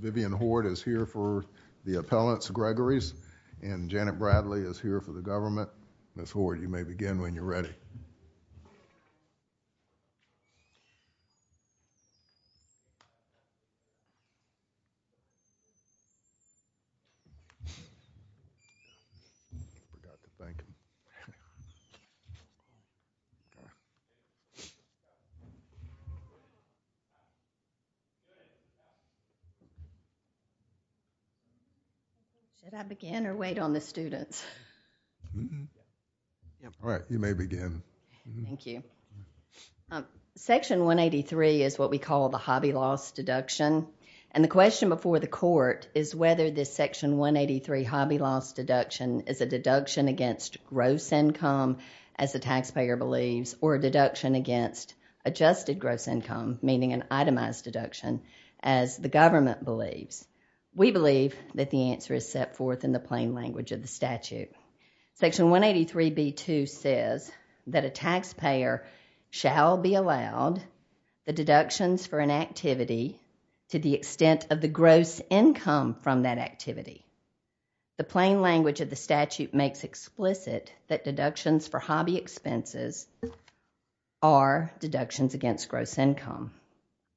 Vivian Hord is here for the appellants, Gregory's, and Janet Bradley is here for the government. Janet, Ms. Hord, you may begin when you're ready. Section 183 is what we call the Hobby Loss Deduction. The question before the court is whether this Section 183 Hobby Loss Deduction is a deduction against gross income, as the taxpayer believes, or a deduction against adjusted gross income, meaning an itemized deduction, as the government believes. We believe that the answer is set forth in the plain language of the statute. Section 183B-2 says that a taxpayer shall be allowed the deductions for an activity to the extent of the gross income from that activity. The plain language of the statute makes explicit that deductions for hobby expenses are deductions against gross income.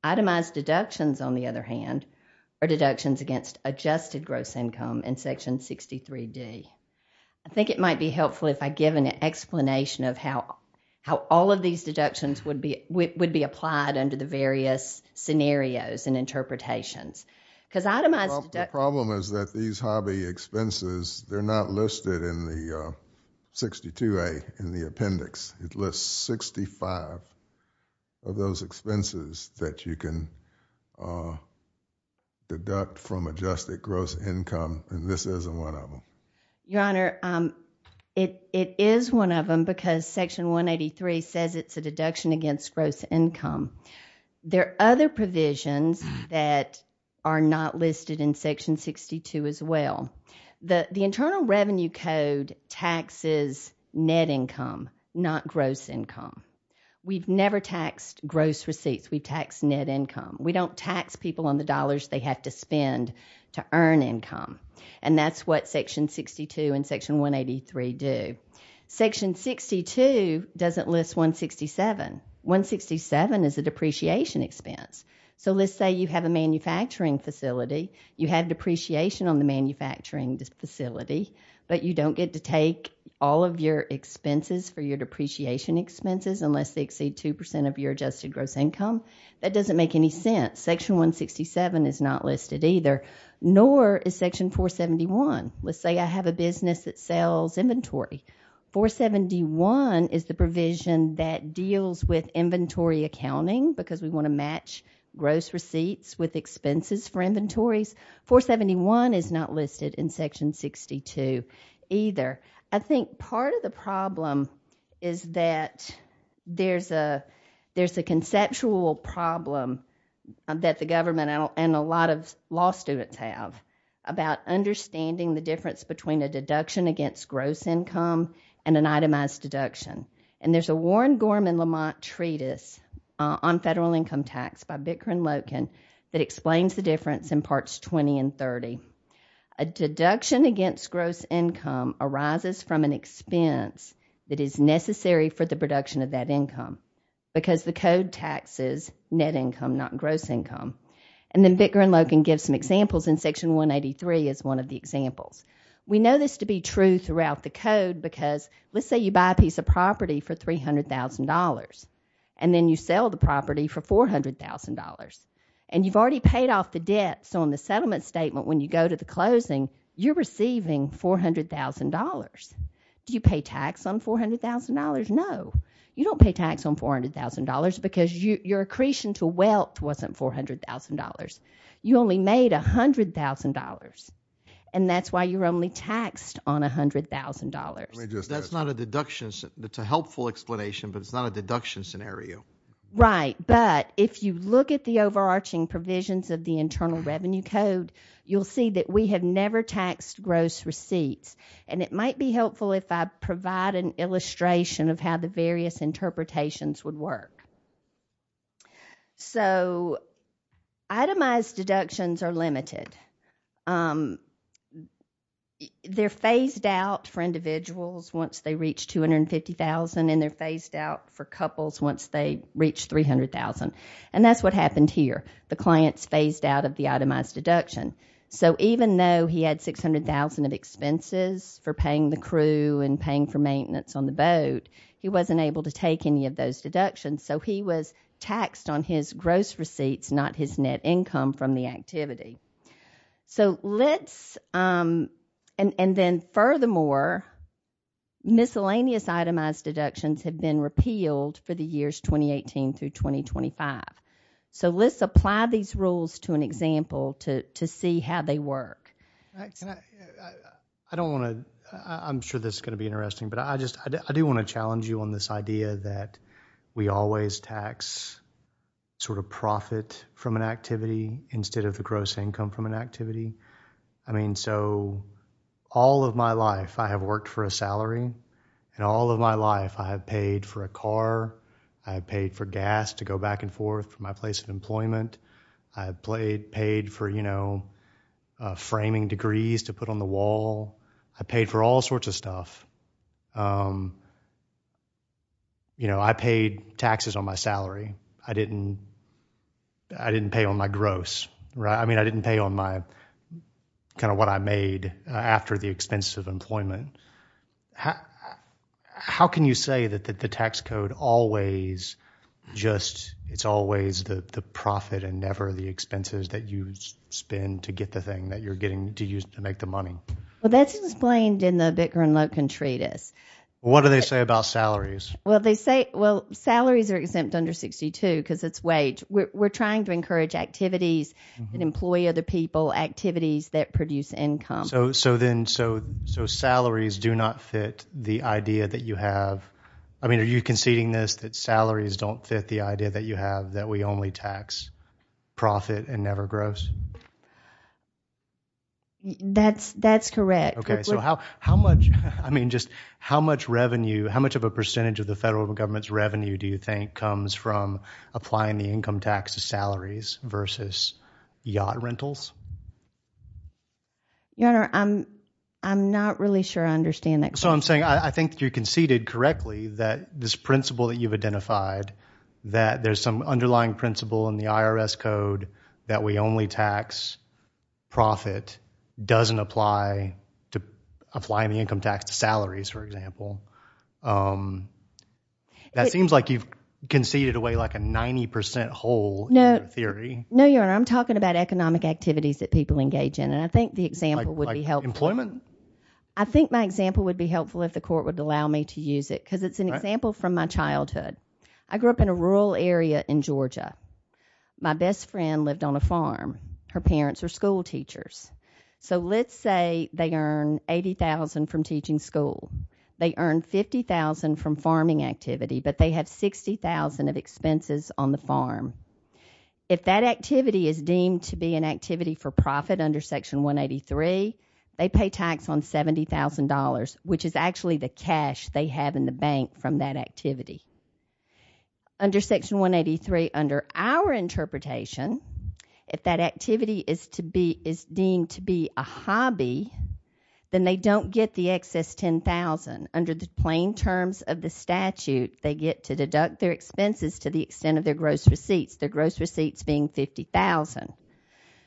Itemized deductions, on the other hand, are deductions against adjusted gross income in I think it might be helpful if I give an explanation of how all of these deductions would be applied under the various scenarios and interpretations. The problem is that these hobby expenses, they're not listed in the 62A in the appendix. It lists 65 of those expenses that you can deduct from adjusted gross income, and this isn't one of them. Your Honor, it is one of them because Section 183 says it's a deduction against gross income. There are other provisions that are not listed in Section 62 as well. The Internal Revenue Code taxes net income, not gross income. We've never taxed gross receipts. We tax net income. We don't tax people on the dollars they have to spend to earn income, and that's what Section 62 and Section 183 do. Section 62 doesn't list 167. 167 is a depreciation expense. So let's say you have a manufacturing facility. You have depreciation on the manufacturing facility, but you don't get to take all of your expenses for your depreciation expenses unless they exceed 2% of your adjusted gross income. That doesn't make any sense. Section 167 is not listed either, nor is Section 471. Let's say I have a business that sells inventory. 471 is the provision that deals with inventory accounting because we want to match gross receipts with expenses for inventories. 471 is not listed in Section 62 either. I think part of the problem is that there's a conceptual problem that the government and a lot of law students have about understanding the difference between a deduction against gross income and an itemized deduction, and there's a Warren Gorman Lamont treatise on federal income tax by Bickrin Loken that explains the difference in parts 20 and 30. A deduction against gross income arises from an expense that is necessary for the production of that income because the code taxes net income, not gross income. And then Bickrin Loken gives some examples in Section 183 as one of the examples. We know this to be true throughout the code because let's say you buy a piece of property for $300,000 and then you sell the property for $400,000. And you've already paid off the debt, so in the settlement statement when you go to the closing, you're receiving $400,000. Do you pay tax on $400,000? No. You don't pay tax on $400,000 because your accretion to wealth wasn't $400,000. You only made $100,000. And that's why you're only taxed on $100,000. That's not a deduction. It's a helpful explanation, but it's not a deduction scenario. Right. But if you look at the overarching provisions of the Internal Revenue Code, you'll see that we have never taxed gross receipts. And it might be helpful if I provide an illustration of how the various interpretations would work. So itemized deductions are limited. They're phased out for individuals once they reach $250,000 and they're phased out for couples once they reach $300,000. And that's what happened here. The client's phased out of the itemized deduction. So even though he had $600,000 of expenses for paying the crew and paying for maintenance on the boat, he wasn't able to take any of those deductions. So he was taxed on his gross receipts, not his net income from the activity. And then furthermore, miscellaneous itemized deductions have been repealed for the years 2018 through 2025. So let's apply these rules to an example to see how they work. Can I, I don't want to, I'm sure this is going to be interesting, but I just, I do want to challenge you on this idea that we always tax sort of profit from an activity instead of the gross income from an activity. I mean, so all of my life I have worked for a salary and all of my life I have paid for a car. I have paid for gas to go back and forth from my place of employment. I played, paid for, you know, framing degrees to put on the wall. I paid for all sorts of stuff. You know, I paid taxes on my salary. I didn't, I didn't pay on my gross, right? I mean, I didn't pay on my kind of what I made after the expenses of employment. How can you say that the tax code always just, it's always the profit and never the expenses that you spend to get the thing that you're getting to use to make the money? Well, that's explained in the Bicker and Loken Treatise. What do they say about salaries? Well, they say, well, salaries are exempt under 62 because it's wage. We're trying to encourage activities that employ other people, activities that produce income. So, so then, so, so salaries do not fit the idea that you have. I mean, are you conceding this, that salaries don't fit the idea that you have, that we only tax profit and never gross? That's, that's correct. Okay, so how, how much, I mean, just how much revenue, how much of a percentage of the federal government's revenue do you think comes from applying the income tax to salaries versus yacht rentals? Your Honor, I'm, I'm not really sure I understand that question. So I'm saying, I think you conceded correctly that this principle that you've identified, that there's some underlying principle in the IRS code that we only tax profit, doesn't apply to applying the income tax to salaries, for example. That seems like you've conceded away like a 90% hole in your theory. No, Your Honor, I'm talking about economic activities that people engage in, and I think the example would be helpful. Employment? I think my example would be helpful if the court would allow me to use it, because it's an example from my childhood. I grew up in a rural area in Georgia. My best friend lived on a farm. Her parents were school teachers. So let's say they earn $80,000 from teaching school. They earn $50,000 from farming activity, but they have $60,000 of expenses on the farm. If that activity is deemed to be an activity for profit under Section 183, they pay tax on $70,000, which is actually the cash they have in the bank from that activity. Under Section 183, under our interpretation, if that activity is deemed to be a hobby, then they don't get the excess $10,000. Under the plain terms of the statute, they get to deduct their expenses to the extent of their gross receipts, their gross receipts being $50,000.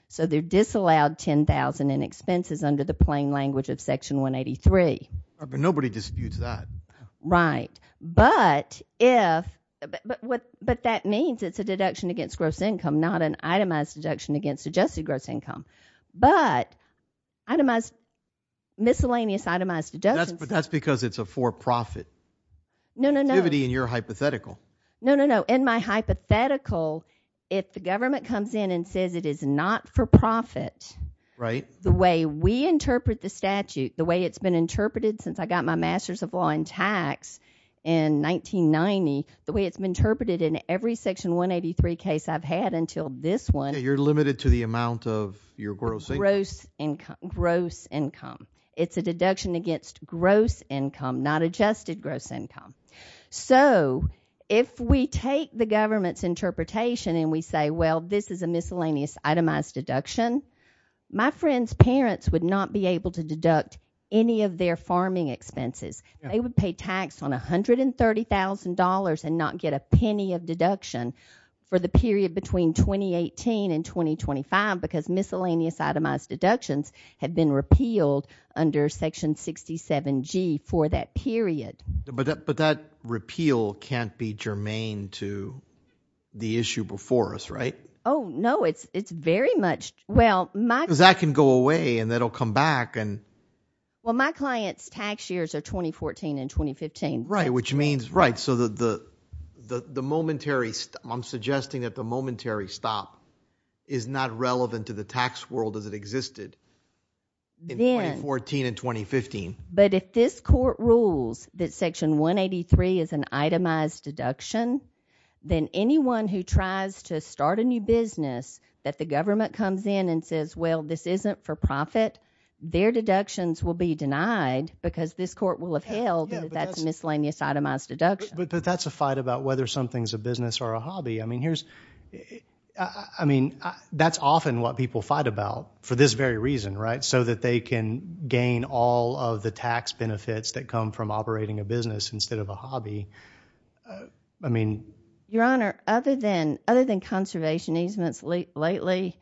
So they're disallowed $10,000 in expenses under the plain language of Section 183. Nobody disputes that. Right. But that means it's a deduction against gross income, not an itemized deduction against adjusted gross income, but miscellaneous itemized deductions. That's because it's a for-profit activity in your hypothetical. No, no, no. In my hypothetical, if the government comes in and says it is not for profit, the way we interpret the statute, the way it's been interpreted since I got my Master's of Law in tax in 1990, the way it's been interpreted in every Section 183 case I've had until this one. Yeah, you're limited to the amount of your gross income. Gross income, gross income. It's a deduction against gross income, not adjusted gross income. So if we take the government's interpretation and we say, well, this is a miscellaneous itemized deduction, my friend's parents would not be able to deduct any of their farming expenses. They would pay tax on $130,000 and not get a penny of deduction for the period between 2018 and 2025 because miscellaneous itemized deductions have been repealed under Section 67G for that period. But that repeal can't be germane to the issue before us, right? Oh, no, it's very much, well, my- Because that can go away and that'll come back and- Well, my client's tax years are 2014 and 2015. Right, which means, right, so the momentary, I'm suggesting that the momentary stop is not relevant to the tax world as it existed in 2014 and 2015. But if this court rules that Section 183 is an itemized deduction, then anyone who tries to start a new business that the government comes in and says, well, this isn't for profit, their deductions will be denied because this court will have held that's miscellaneous itemized deduction. But that's a fight about whether something's a business or a hobby. I mean, that's often what people fight about for this very reason, right? That they can gain all of the tax benefits that come from operating a business instead of a hobby. I mean- Your Honor, other than conservation easements lately,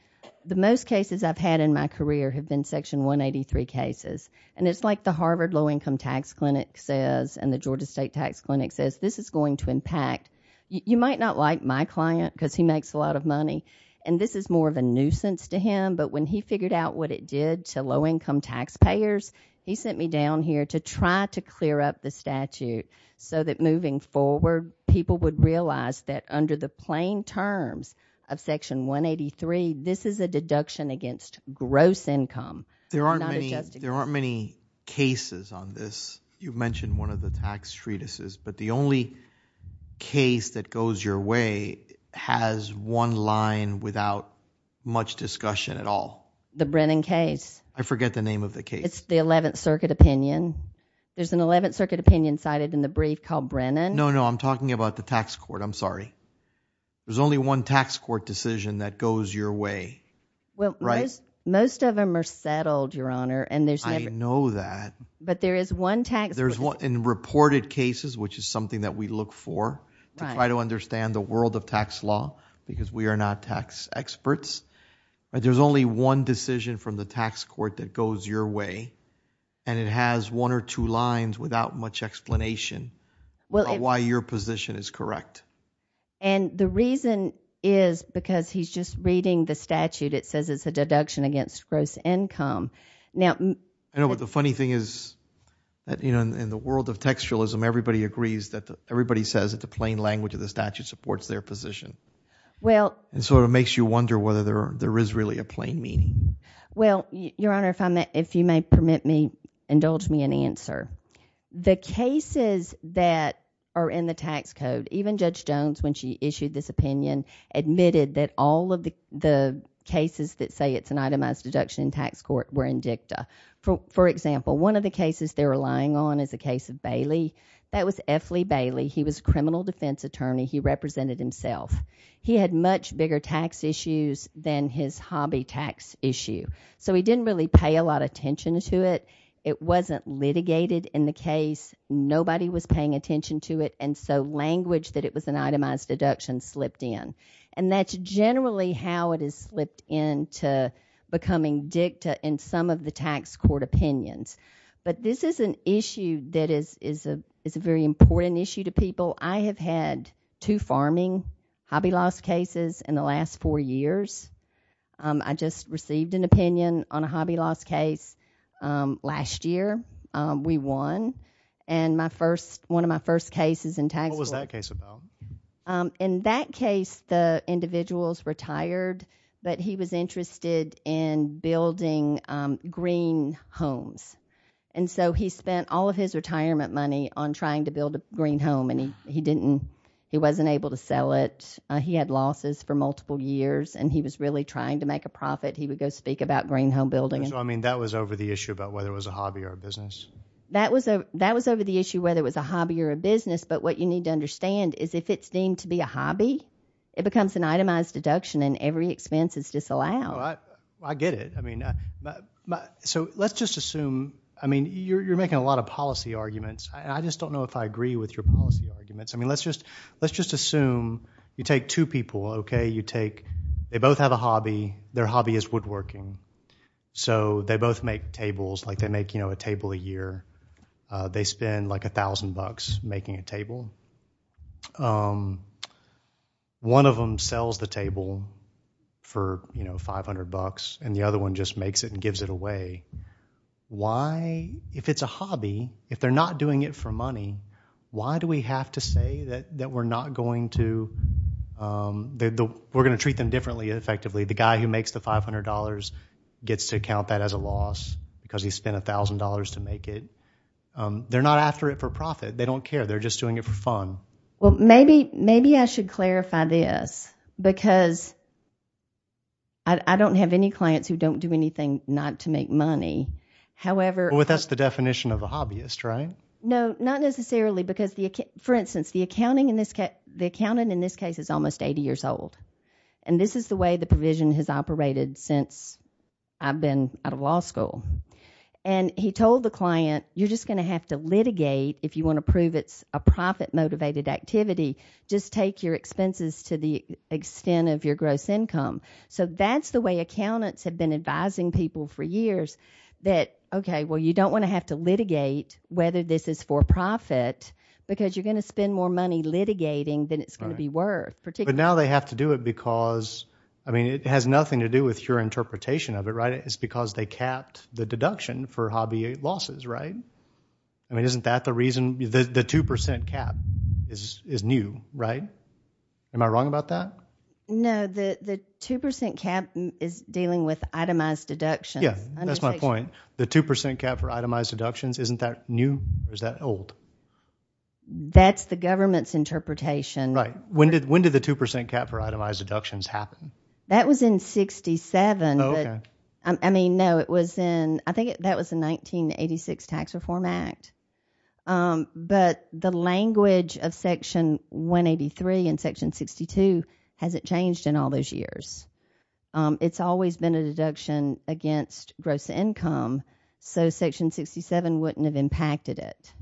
the most cases I've had in my career have been Section 183 cases. And it's like the Harvard Low Income Tax Clinic says and the Georgia State Tax Clinic says, this is going to impact. You might not like my client because he makes a lot of money and this is more of a nuisance to him. But when he figured out what it did to low income taxpayers, he sent me down here to try to clear up the statute so that moving forward, people would realize that under the plain terms of Section 183, this is a deduction against gross income. There aren't many cases on this. You mentioned one of the tax treatises. But the only case that goes your way has one line without much discussion at all. The Brennan case. I forget the name of the case. It's the 11th Circuit Opinion. There's an 11th Circuit Opinion cited in the brief called Brennan. No, no, I'm talking about the tax court. I'm sorry. There's only one tax court decision that goes your way, right? Most of them are settled, Your Honor. And there's never- I know that. But there is one tax- There's one in reported cases, which is something that we look for to try to understand the world of tax law because we are not tax experts. There's only one decision from the tax court that goes your way. And it has one or two lines without much explanation why your position is correct. And the reason is because he's just reading the statute. It says it's a deduction against gross income. Now- I know, but the funny thing is, you know, in the world of textualism, everybody agrees that everybody says that the plain language of the statute supports their position. Well- And so it makes you wonder whether there is really a plain meaning. Well, Your Honor, if you may permit me, indulge me in answer. The cases that are in the tax code, even Judge Jones, when she issued this opinion, admitted that all of the cases that say it's an itemized deduction in tax court were in dicta. For example, one of the cases they're relying on is the case of Bailey. That was F. Lee Bailey. He was a criminal defense attorney. He represented himself. He had much bigger tax issues than his hobby tax issue. So he didn't really pay a lot of attention to it. It wasn't litigated in the case. Nobody was paying attention to it. And so language that it was an itemized deduction slipped in. And that's generally how it is slipped into becoming dicta in some of the tax court opinions. But this is an issue that is a very important issue to people. I have had two farming hobby loss cases in the last four years. I just received an opinion on a hobby loss case last year. We won. And my first, one of my first cases in tax- What was that case about? In that case, the individuals retired, but he was interested in building green homes. And so he spent all of his retirement money on trying to build a green home and he didn't, he wasn't able to sell it. He had losses for multiple years and he was really trying to make a profit. He would go speak about green home building. So, I mean, that was over the issue about whether it was a hobby or a business. That was over the issue, whether it was a hobby or a business. But what you need to understand is if it's deemed to be a hobby, it becomes an itemized deduction and every expense is disallowed. Oh, I get it. I mean, so let's just assume, I mean, you're making a lot of policy arguments. I just don't know if I agree with your policy arguments. I mean, let's just assume you take two people, okay? You take, they both have a hobby. Their hobby is woodworking. So they both make tables, like they make a table a year. They spend like a thousand bucks making a table. One of them sells the table for 500 bucks and the other one just makes it and gives it away. Why, if it's a hobby, if they're not doing it for money, why do we have to say that we're not going to, we're going to treat them differently effectively? The guy who makes the $500 gets to count that as a loss because he spent a thousand dollars to make it. They're not after it for profit. They don't care. They're just doing it for fun. Well, maybe I should clarify this because I don't have any clients who don't do anything not to make money. However, Well, that's the definition of a hobbyist, right? No, not necessarily because the, for instance, the accounting in this case, the accountant in this case is almost 80 years old. And this is the way the provision has operated since I've been out of law school. And he told the client, you're just going to have to litigate if you want to prove it's a profit-motivated activity. Just take your expenses to the extent of your gross income. So that's the way accountants have been advising people for years that, okay, well, you don't want to have to litigate whether this is for profit because you're going to spend more money litigating than it's going to be worth particularly. But now they have to do it because, I mean, it has nothing to do with your interpretation of it, right? It's because they capped the deduction for hobby losses, right? I mean, isn't that the reason the 2% cap is new? Right? Am I wrong about that? No, the 2% cap is dealing with itemized deductions. Yeah, that's my point. The 2% cap for itemized deductions, isn't that new? Or is that old? That's the government's interpretation. Right. When did the 2% cap for itemized deductions happen? That was in 67. I mean, no, it was in, I think that was the 1986 Tax Reform Act. But the language of Section 183 and Section 62 hasn't changed in all those years. It's always been a deduction against gross income. So Section 67 wouldn't have impacted it.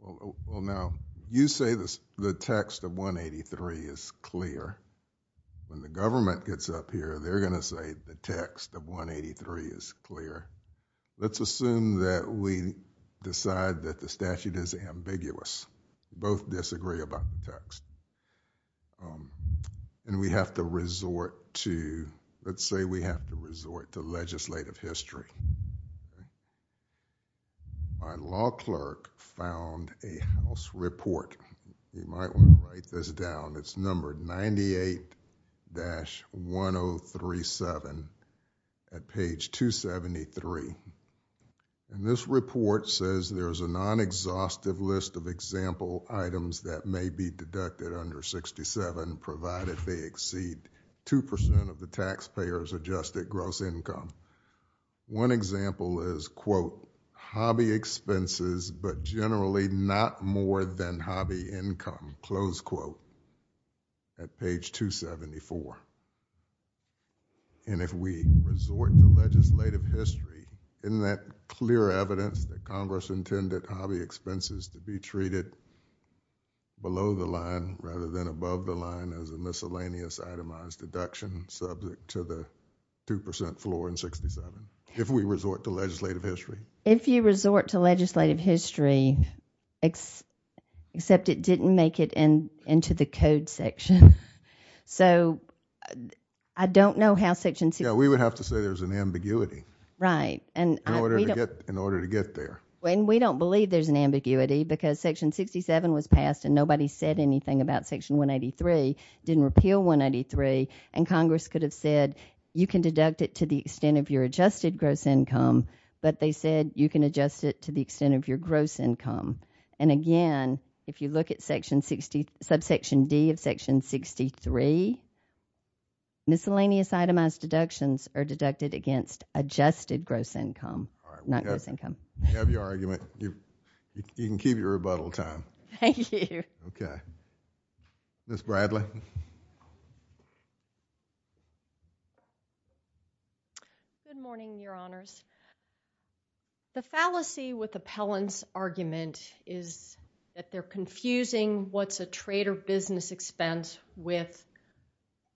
Well, now you say this, the text of 183 is clear. When the government gets up here, they're going to say the text of 183 is clear. Let's assume that we decide that the statute is ambiguous. Both disagree about the text. And we have to resort to, let's say we have to resort to legislative history. My law clerk found a house report. You might want to write this down. It's numbered 98-1037 at page 273. And this report says there's a non-exhaustive list of example items that may be deducted under 67, provided they exceed 2% of the taxpayers adjusted gross income. One example is, quote, hobby expenses, but generally not more than hobby income, close quote. At page 274. And if we resort to legislative history, isn't that clear evidence that Congress intended hobby expenses to be treated below the line rather than above the line as a miscellaneous itemized deduction subject to the 2% floor in 67. If we resort to legislative history. If you resort to legislative history, except it didn't make it into the code section. So I don't know how section. Yeah, we would have to say there's an ambiguity. Right. In order to get there. When we don't believe there's an ambiguity because section 67 was passed and nobody said anything about section 183. Didn't repeal 183. And Congress could have said, you can deduct it to the extent of your adjusted gross income. But they said you can adjust it to the extent of your gross income. And again, if you look at section 60, subsection D of section 63. Miscellaneous itemized deductions are deducted against adjusted gross income, not gross income. You have your argument. You can keep your rebuttal time. Thank you. Okay. Miss Bradley. Good morning, your honors. The fallacy with appellant's argument is that they're confusing what's a trader business expense with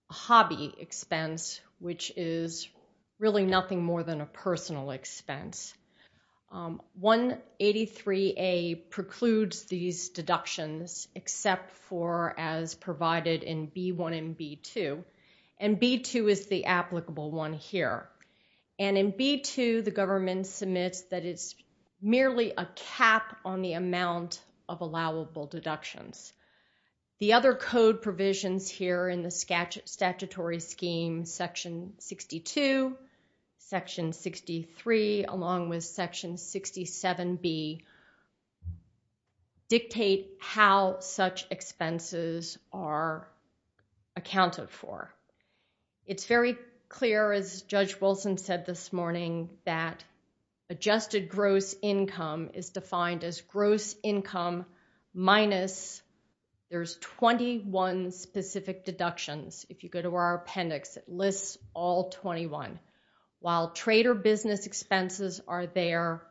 a hobby expense, which is really nothing more than a personal expense. 183A precludes these deductions, except for as provided in B1 and B2. And B2 is the applicable one here. And in B2, the government submits that it's merely a cap on the amount of allowable deductions. The other code provisions here in the statutory scheme, section 62, section 63, along with section 67B, dictate how such expenses are accounted for. It's very clear, as Judge Wilson said this morning, that adjusted gross income is defined as gross income minus there's 21 specific deductions. If you go to our appendix, it lists all 21. While trader business expenses are there,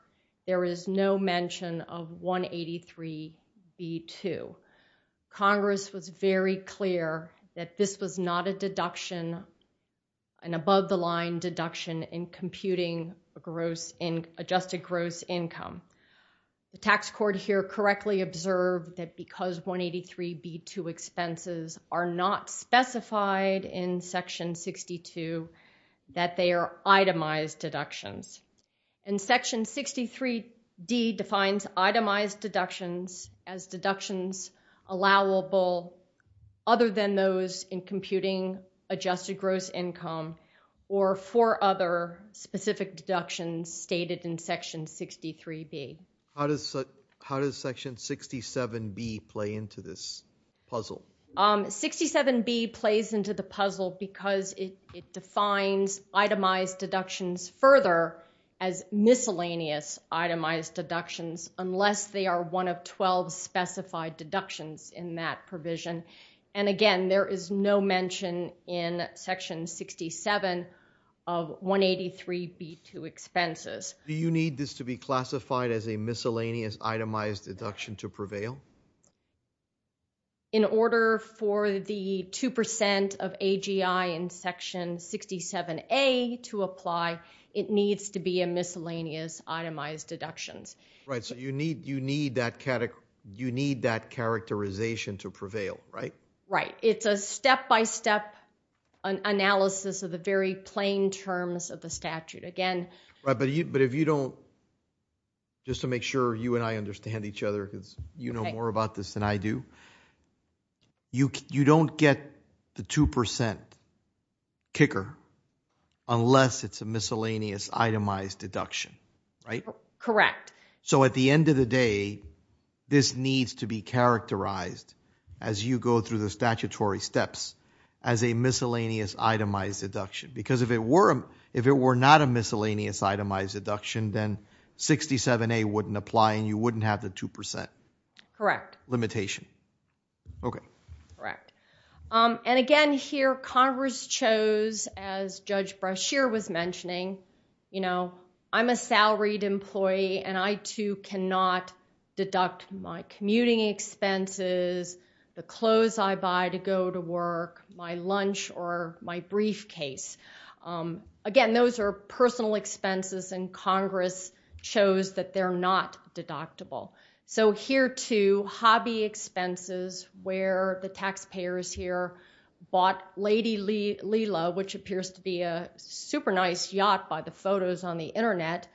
there is no mention of 183B2. Congress was very clear that this was not a deduction, an above-the-line deduction in computing adjusted gross income. The tax court here correctly observed that because 183B2 expenses are not specified in section 62, that they are itemized deductions. And section 63D defines itemized deductions as deductions allowable other than those in computing adjusted gross income or for other specific deductions stated in section 63B. How does section 67B play into this puzzle? 67B plays into the puzzle because it defines itemized deductions further as miscellaneous itemized deductions unless they are one of 12 specified deductions in that provision. And again, there is no mention in section 67 of 183B2 expenses. Do you need this to be classified as a miscellaneous itemized deduction to prevail? In order for the 2% of AGI in section 67A to apply, it needs to be a miscellaneous itemized deductions. Right. So you need that characterization to prevail, right? Right. It's a step-by-step analysis of the very plain terms of the statute. Again... Right, but if you don't... Just to make sure you and I understand each other because you know more about this than I do. You don't get the 2% kicker unless it's a miscellaneous itemized deduction, right? Correct. So at the end of the day, this needs to be characterized as you go through the statutory steps as a miscellaneous itemized deduction because if it were not a miscellaneous itemized deduction, then 67A wouldn't apply and you wouldn't have the 2% limitation. Okay. Correct. And again here, Congress chose as Judge Brashear was mentioning, you know, I'm a salaried employee and I too cannot deduct my commuting expenses, the clothes I buy to go to work, my lunch or my briefcase. Again, those are personal expenses and Congress chose that they're not deductible. So here too, hobby expenses where the taxpayers here bought Lady Lila, which appears to be a super nice yacht by the photos on the internet,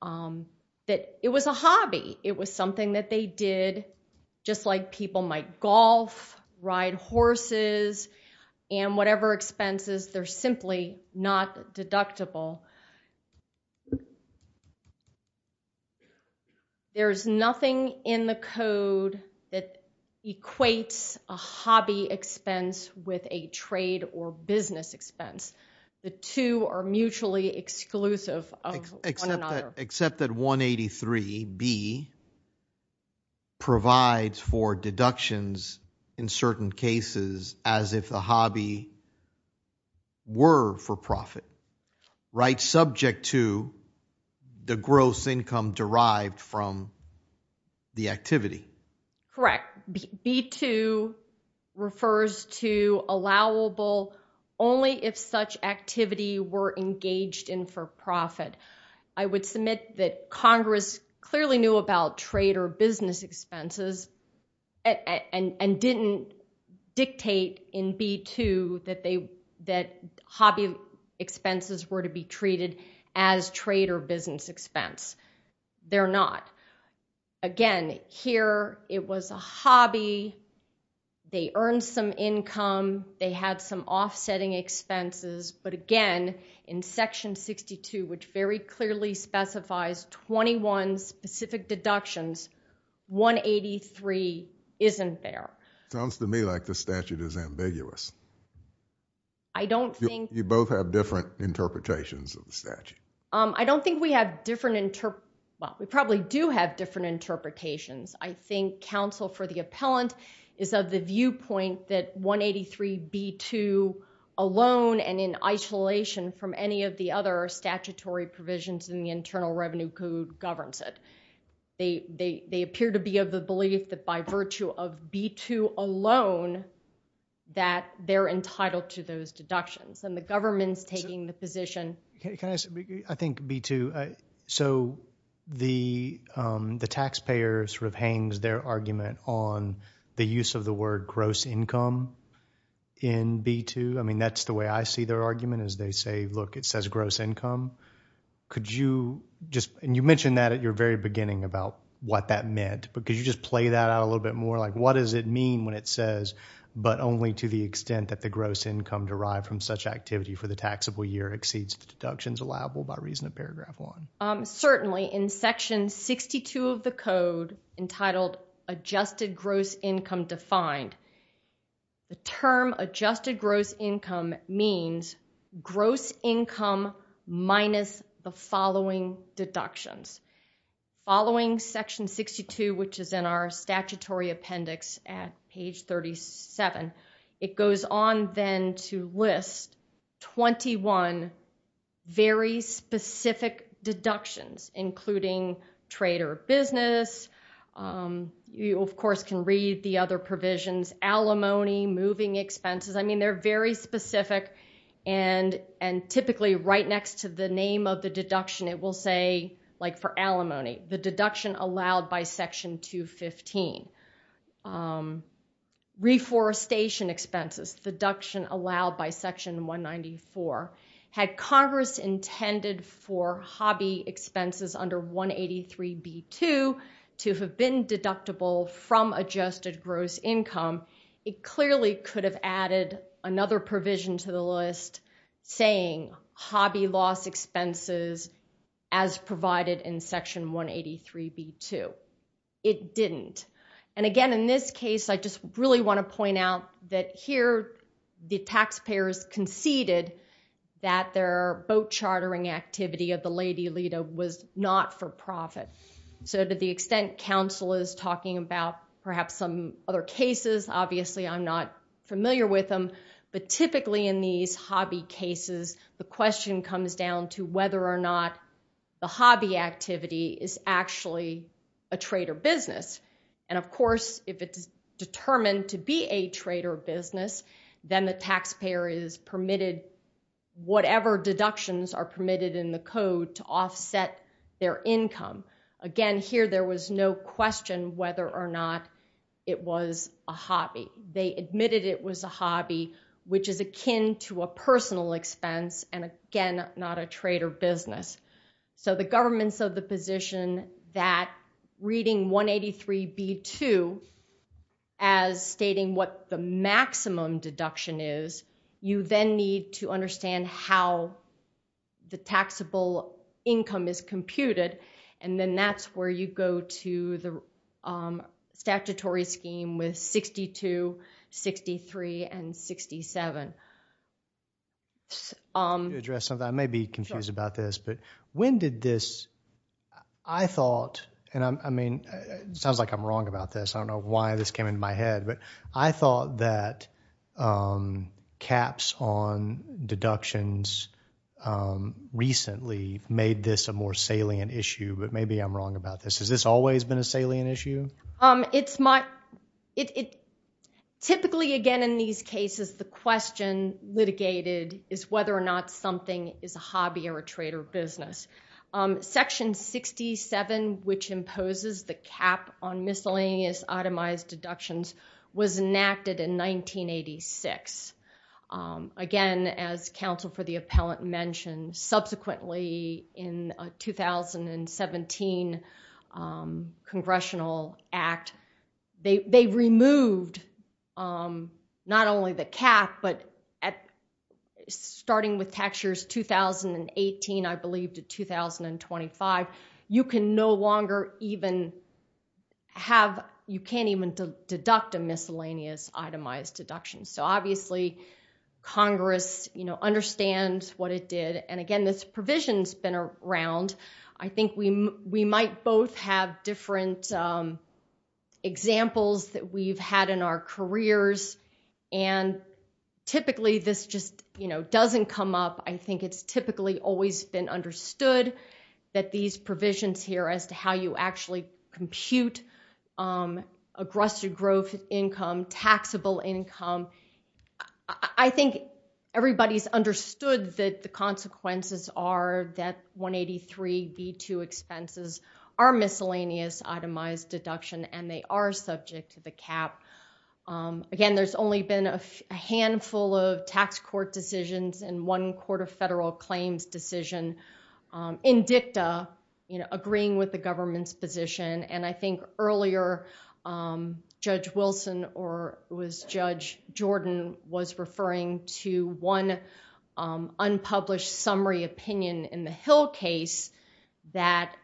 that it was a hobby. It was something that they did just like people might golf, ride horses and whatever expenses, they're simply not deductible. There's nothing in the code that equates a hobby expense with a trade or business expense. The two are mutually exclusive of one another. Except that 183B provides for deductions in certain cases as if the hobby were for profit, right, subject to the gross income derived from the activity. Correct. B2 refers to allowable only if such activity were engaged in for profit. I would submit that Congress clearly knew about trade or business expenses and didn't dictate in B2 that hobby expenses were to be treated as trade or business expense. They're not. Again, here, it was a hobby. They earned some income. They had some offsetting expenses. But again, in Section 62, which very clearly specifies 21 specific deductions, 183 isn't there. Sounds to me like the statute is ambiguous. I don't think- You both have different interpretations of the statute. I don't think we have different inter- We probably do have different interpretations. I think counsel for the appellant is of the viewpoint that 183B2 alone and in isolation from any of the other statutory provisions in the Internal Revenue Code governs it. They appear to be of the belief that by virtue of B2 alone that they're entitled to those deductions. And the government's taking the position- I think B2, so the taxpayer sort of hangs their argument on the use of the word gross income in B2. I mean, that's the way I see their argument is they say, look, it says gross income. Could you just- And you mentioned that at your very beginning about what that meant. But could you just play that out a little bit more? Like, what does it mean when it says, but only to the extent that the gross income derived from such activity for the taxable year exceeds the deductions allowable by reason of paragraph one? Certainly in section 62 of the code entitled adjusted gross income defined, the term adjusted gross income means gross income minus the following deductions. Following section 62, which is in our statutory appendix at page 37, it goes on then to list 21 very specific deductions, including trade or business. You, of course, can read the other provisions, alimony, moving expenses. I mean, they're very specific. And typically right next to the name of the deduction, it will say, like for alimony, the deduction allowed by section 215. Um, reforestation expenses, deduction allowed by section 194. Had Congress intended for hobby expenses under 183 B2 to have been deductible from adjusted gross income, it clearly could have added another provision to the list saying hobby loss expenses as provided in section 183 B2. It didn't. And again, in this case, I just really want to point out that here the taxpayers conceded that their boat chartering activity of the Lady Lita was not for profit. So to the extent counsel is talking about perhaps some other cases, obviously I'm not familiar with them. But typically in these hobby cases, the question comes down to whether or not the hobby activity is actually a trade or business. And of course, if it's determined to be a trade or business, then the taxpayer is permitted, whatever deductions are permitted in the code to offset their income. Again, here there was no question whether or not it was a hobby. They admitted it was a hobby, which is akin to a personal expense. And again, not a trade or business. So the governments of the position that reading 183 B2 as stating what the maximum deduction is, you then need to understand how the taxable income is computed. And then that's where you go to the statutory scheme with 62, 63, and 67. To address something, I may be confused about this, but when did this, I thought, and I mean, it sounds like I'm wrong about this. I don't know why this came into my head. But I thought that caps on deductions recently made this a more salient issue. But maybe I'm wrong about this. Has this always been a salient issue? It's my, typically again in these cases, the question litigated is whether or not something is a hobby or a trade or business. Section 67, which imposes the cap on miscellaneous itemized deductions was enacted in 1986. Again, as counsel for the appellant mentioned, subsequently in 2017 congressional act, they removed not only the cap, but starting with tax years 2018, I believe to 2025, you can no longer even have, you can't even deduct a miscellaneous itemized deduction. So obviously Congress understands what it did. And again, this provision's been around. I think we might both have different examples that we've had in our careers. And typically this just doesn't come up. I think it's typically always been understood that these provisions here as to how you actually compute aggressive growth income, taxable income. I think everybody's understood that the consequences are that 183B2 expenses are miscellaneous itemized deduction and they are subject to the cap. Again, there's only been a handful of tax court decisions and one court of federal claims decision in dicta agreeing with the government's position. And I think earlier Judge Wilson or it was Judge Jordan was referring to one unpublished summary opinion in the Hill case that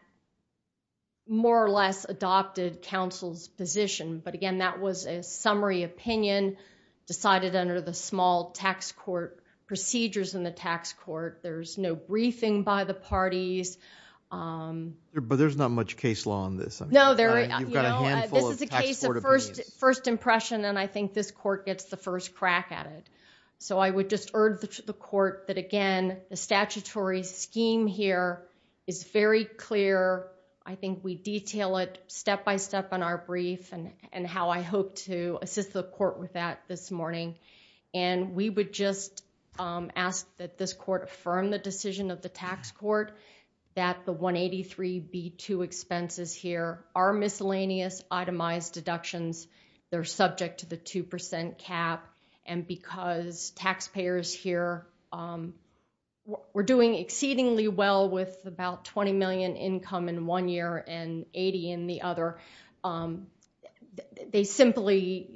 more or less adopted counsel's position. But again, that was a summary opinion decided under the small tax court procedures in the tax court. There's no briefing by the parties. But there's not much case law on this. No, there is. This is a case of first impression and I think this court gets the first crack at it. So I would just urge the court that again, the statutory scheme here is very clear. I think we detail it step-by-step in our brief and how I hope to assist the court with that this morning. And we would just ask that this court affirm the decision of the tax court. That the 183B2 expenses here are miscellaneous itemized deductions. They're subject to the 2% cap. And because taxpayers here were doing exceedingly well with about 20 million income in one year and 80 in the other, they simply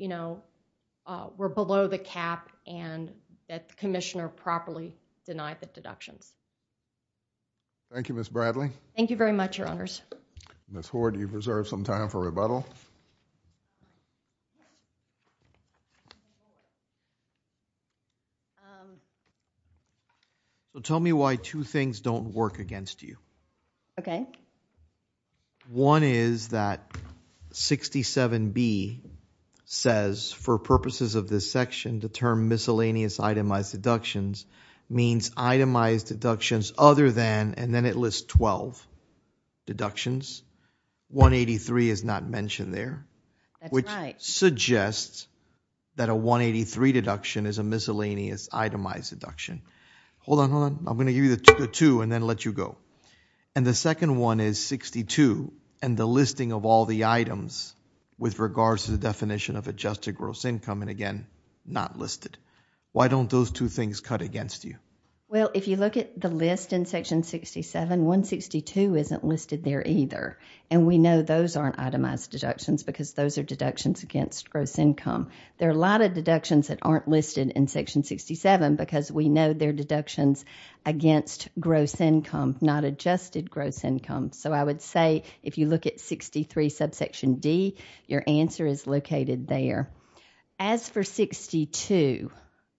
were below the cap and that the commissioner properly denied the deductions. Thank you, Ms. Bradley. Thank you very much, your honors. Ms. Hoard, do you preserve some time for rebuttal? So tell me why two things don't work against you. Okay. One is that 67B says for purposes of this section to term miscellaneous itemized deductions means itemized deductions other than, and then it lists 12 deductions. 183 is not mentioned there. Which suggests that a 183 deduction is a miscellaneous itemized deduction. Hold on, hold on. I'm gonna give you the two and then let you go. And the second one is 62 and the listing of all the items with regards to the definition of adjusted gross income and again, not listed. Why don't those two things cut against you? Well, if you look at the list in section 67, 162 isn't listed there either. And we know those aren't itemized deductions because those are deductions against gross income. There are a lot of deductions that aren't listed in section 67 because we know they're deductions against gross income, not adjusted gross income. So I would say if you look at 63 subsection D, your answer is located there. As for 62,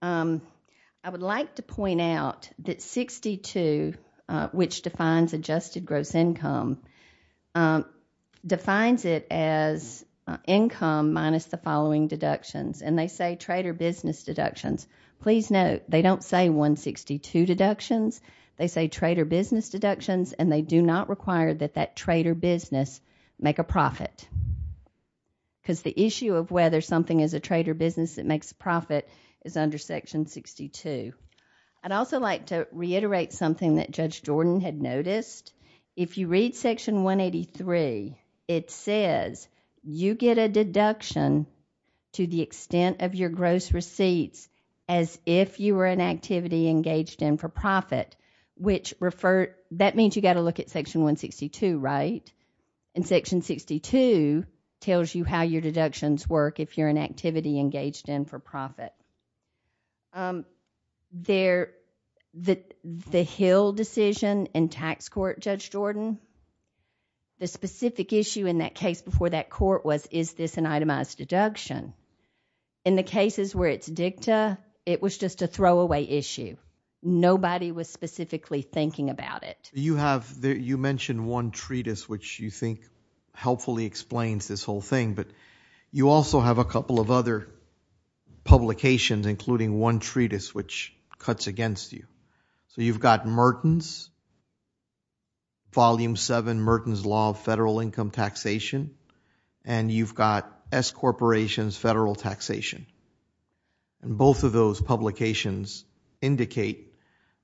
I would like to point out that 62, which defines adjusted gross income, defines it as income minus the following deductions. And they say trader business deductions. Please note, they don't say 162 deductions. They say trader business deductions and they do not require that that trader business make a profit. Because the issue of whether something is a trader business that makes a profit is under section 62. I'd also like to reiterate something that Judge Jordan had noticed. If you read section 183, it says you get a deduction to the extent of your gross receipts as if you were an activity engaged in for profit, which that means you got to look at section 162, right? And section 62 tells you how your deductions work if you're an activity engaged in for profit. The Hill decision in tax court, Judge Jordan, the specific issue in that case before that court was, is this an itemized deduction? In the cases where it's dicta, it was just a throwaway issue. Nobody was specifically thinking about it. You mentioned one treatise, which you think helpfully explains this whole thing, but you also have a couple of other publications, including one treatise, which cuts against you. So you've got Merton's, Volume 7, Merton's Law of Federal Income Taxation, and you've got S Corporation's Federal Taxation. And both of those publications indicate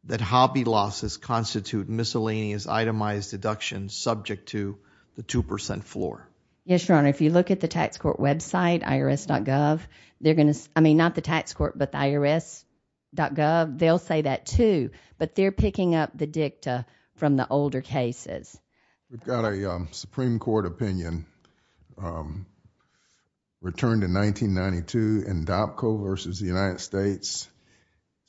that hobby losses constitute miscellaneous itemized deductions subject to the 2% floor. Yes, Your Honor. If you look at the tax court website, irs.gov, they're going to, I mean, not the tax court, but the irs.gov, they'll say that too, but they're picking up the dicta from the older cases. We've got a Supreme Court opinion returned in 1992 in DOPCO versus the United States.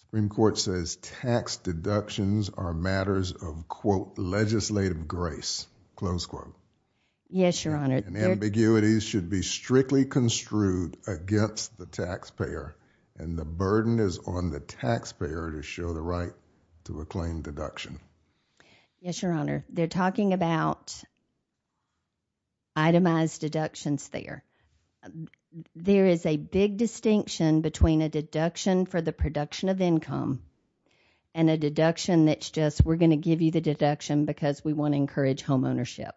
Supreme Court says tax deductions are matters of, quote, legislative grace, close quote. Yes, Your Honor. Ambiguities should be strictly construed against the taxpayer, and the burden is on the taxpayer to show the right to a claim deduction. Yes, Your Honor. They're talking about itemized deductions there. There is a big distinction between a deduction for the production of income and a deduction that's just, we're going to give you the deduction because we want to encourage homeownership,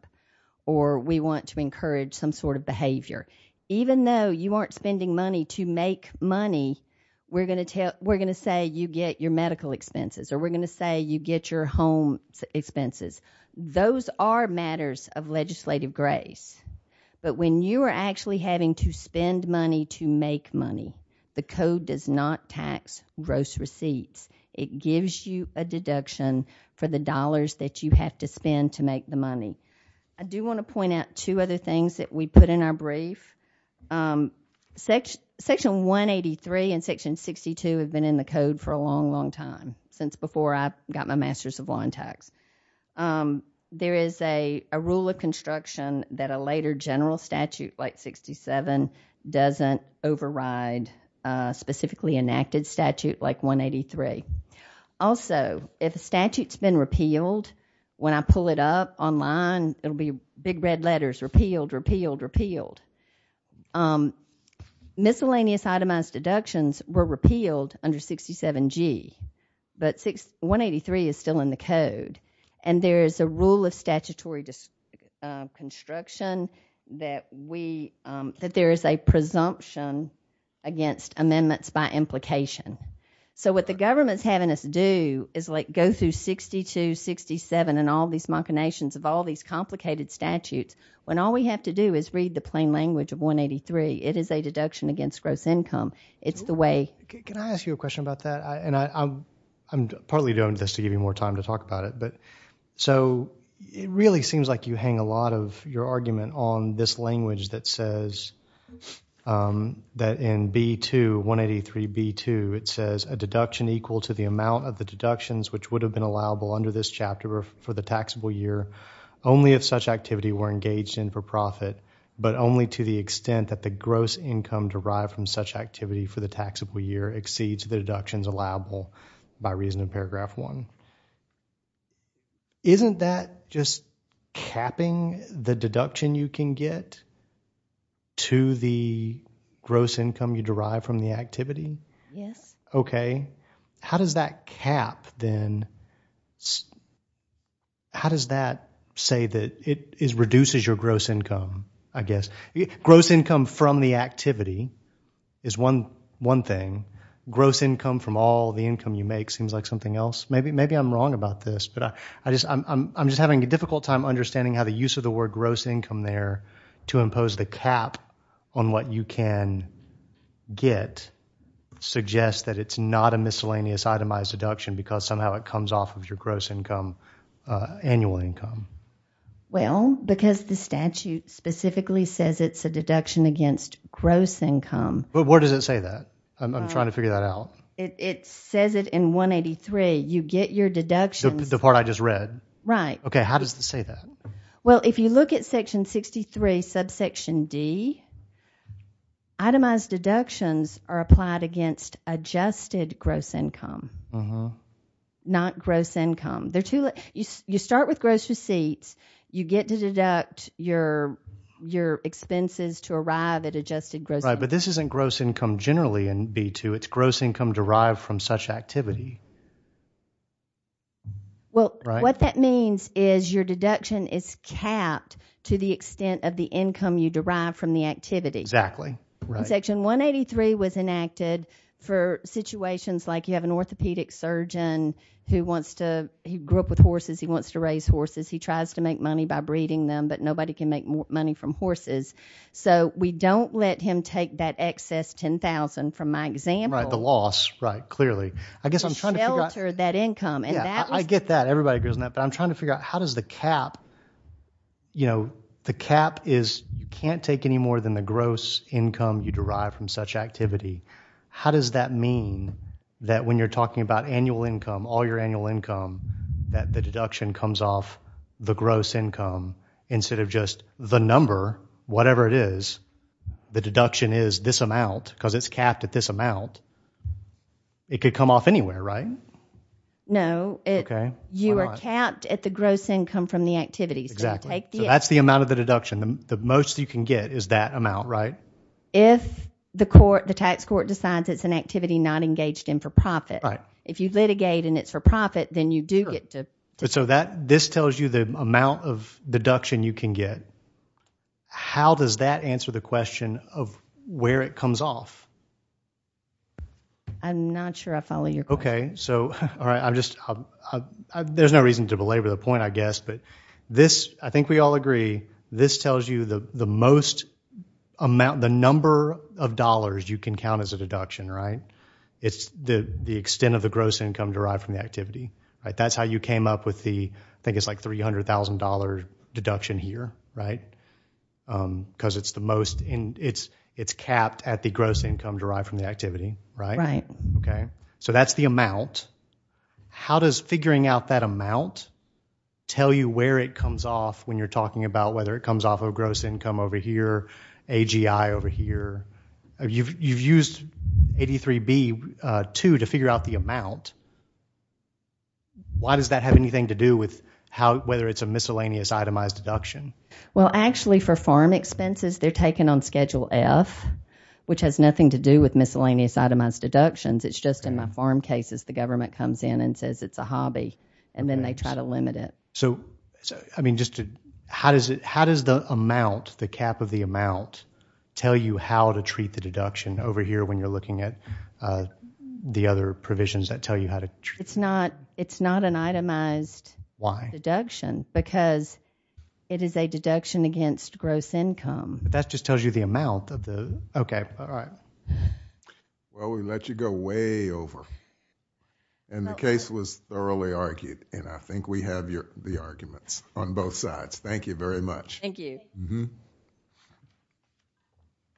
or we want to encourage some sort of behavior. Even though you aren't spending money to make money, we're going to say you get your medical expenses, or we're going to say you get your home expenses. Those are matters of legislative grace. But when you are actually having to spend money to make money, the Code does not tax gross receipts. It gives you a deduction for the dollars that you have to spend to make the money. I do want to point out two other things that we put in our brief. Section 183 and Section 62 have been in the Code for a long, long time, since before I got my Master's of Law and Tax. There is a rule of construction that a later general statute like 67 doesn't override a specifically enacted statute like 183. Also, if a statute's been repealed, when I pull it up online, it'll be big red letters, repealed, repealed, repealed. Miscellaneous itemized deductions were repealed under 67G, but 183 is still in the Code. There is a rule of statutory construction that there is a presumption against amendments by implication. What the government's having us do is go through 62, 67, and all these machinations of all these complicated statutes, when all we have to do is read the plain language of 183. It is a deduction against gross income. Can I ask you a question about that? I'm partly doing this to give you more time to talk about it, so it really seems like you hang a lot of your argument on this language that says that in B2, 183B2, it says, a deduction equal to the amount of the deductions which would have been allowable under this chapter for the taxable year, only if such activity were engaged in for profit, but only to the extent that the gross income derived from such activity for the taxable year exceeds the deductions allowable by reason of paragraph one. Isn't that just capping the deduction you can get to the gross income you derive from the activity? Yes. Okay. How does that cap then? How does that say that it reduces your gross income, I guess? Gross income from the activity is one thing. Gross income from all the income you make seems like something else. Maybe I'm wrong about this, but I'm just having a difficult time understanding how the use of the word gross income there to impose the cap on what you can get suggests that it's not a miscellaneous itemized deduction because somehow it comes off of your gross income, annual income. Well, because the statute specifically says it's a deduction against gross income. But where does it say that? I'm trying to figure that out. It says it in 183. You get your deductions. The part I just read. Right. Okay. How does it say that? Well, if you look at section 63, subsection D, itemized deductions are applied against adjusted gross income, not gross income. You start with gross receipts. You get to deduct your expenses to arrive at adjusted gross income. Right. But this isn't gross income generally in B2. It's gross income derived from such activity. Well, what that means is your deduction is capped to the extent of the income you derive from the activity. Exactly. Section 183 was enacted for situations like you have an orthopedic surgeon who wants to, he grew up with horses. He wants to raise horses. He tries to make money by breeding them, but nobody can make money from horses. So, we don't let him take that excess $10,000 from my example. Right. The loss. Right. Clearly. I guess I'm trying to figure out. To shelter that income. Yeah. I get that. Everybody agrees on that. But I'm trying to figure out how does the cap, you know, the cap is you can't take any more than the gross income you derive from such activity. How does that mean that when you're talking about annual income, all your annual income, that the deduction comes off the gross income instead of just the number, whatever it is. The deduction is this amount because it's capped at this amount. It could come off anywhere, right? No. You are capped at the gross income from the activities. Exactly. That's the amount of the deduction. The most you can get is that amount, right? If the court, the tax court decides it's an activity not engaged in for profit. Right. If you litigate and it's for profit, then you do get to. So that this tells you the amount of deduction you can get. How does that answer the question of where it comes off? I'm not sure I follow your point. Okay. So, all right. I'm just, there's no reason to belabor the point, I guess. But this, I think we all agree, this tells you the most amount, the number of dollars you can count as a deduction, right? It's the extent of the gross income derived from the activity, right? That's how you came up with the, I think it's like $300,000 deduction here, right? Because it's the most, it's capped at the gross income derived from the activity, right? Right. Okay. So that's the amount. How does figuring out that amount tell you where it comes off when you're talking about whether it comes off of gross income over here, AGI over here? You've used 83B-2 to figure out the amount. Why does that have anything to do with whether it's a miscellaneous itemized deduction? Well, actually, for farm expenses, they're taken on Schedule F, which has nothing to do with miscellaneous itemized deductions. It's just in my farm cases, the government comes in and says it's a hobby, and then they try to limit it. So, I mean, just to, how does the amount, the cap of the amount, tell you how to treat the deduction over here when you're looking at the other provisions that tell you how to treat it? It's not an itemized deduction. Why? Because it is a deduction against gross income. But that just tells you the amount of the, okay, all right. Well, we let you go way over. And the case was thoroughly argued. And I think we have the arguments on both sides. Thank you very much. Thank you.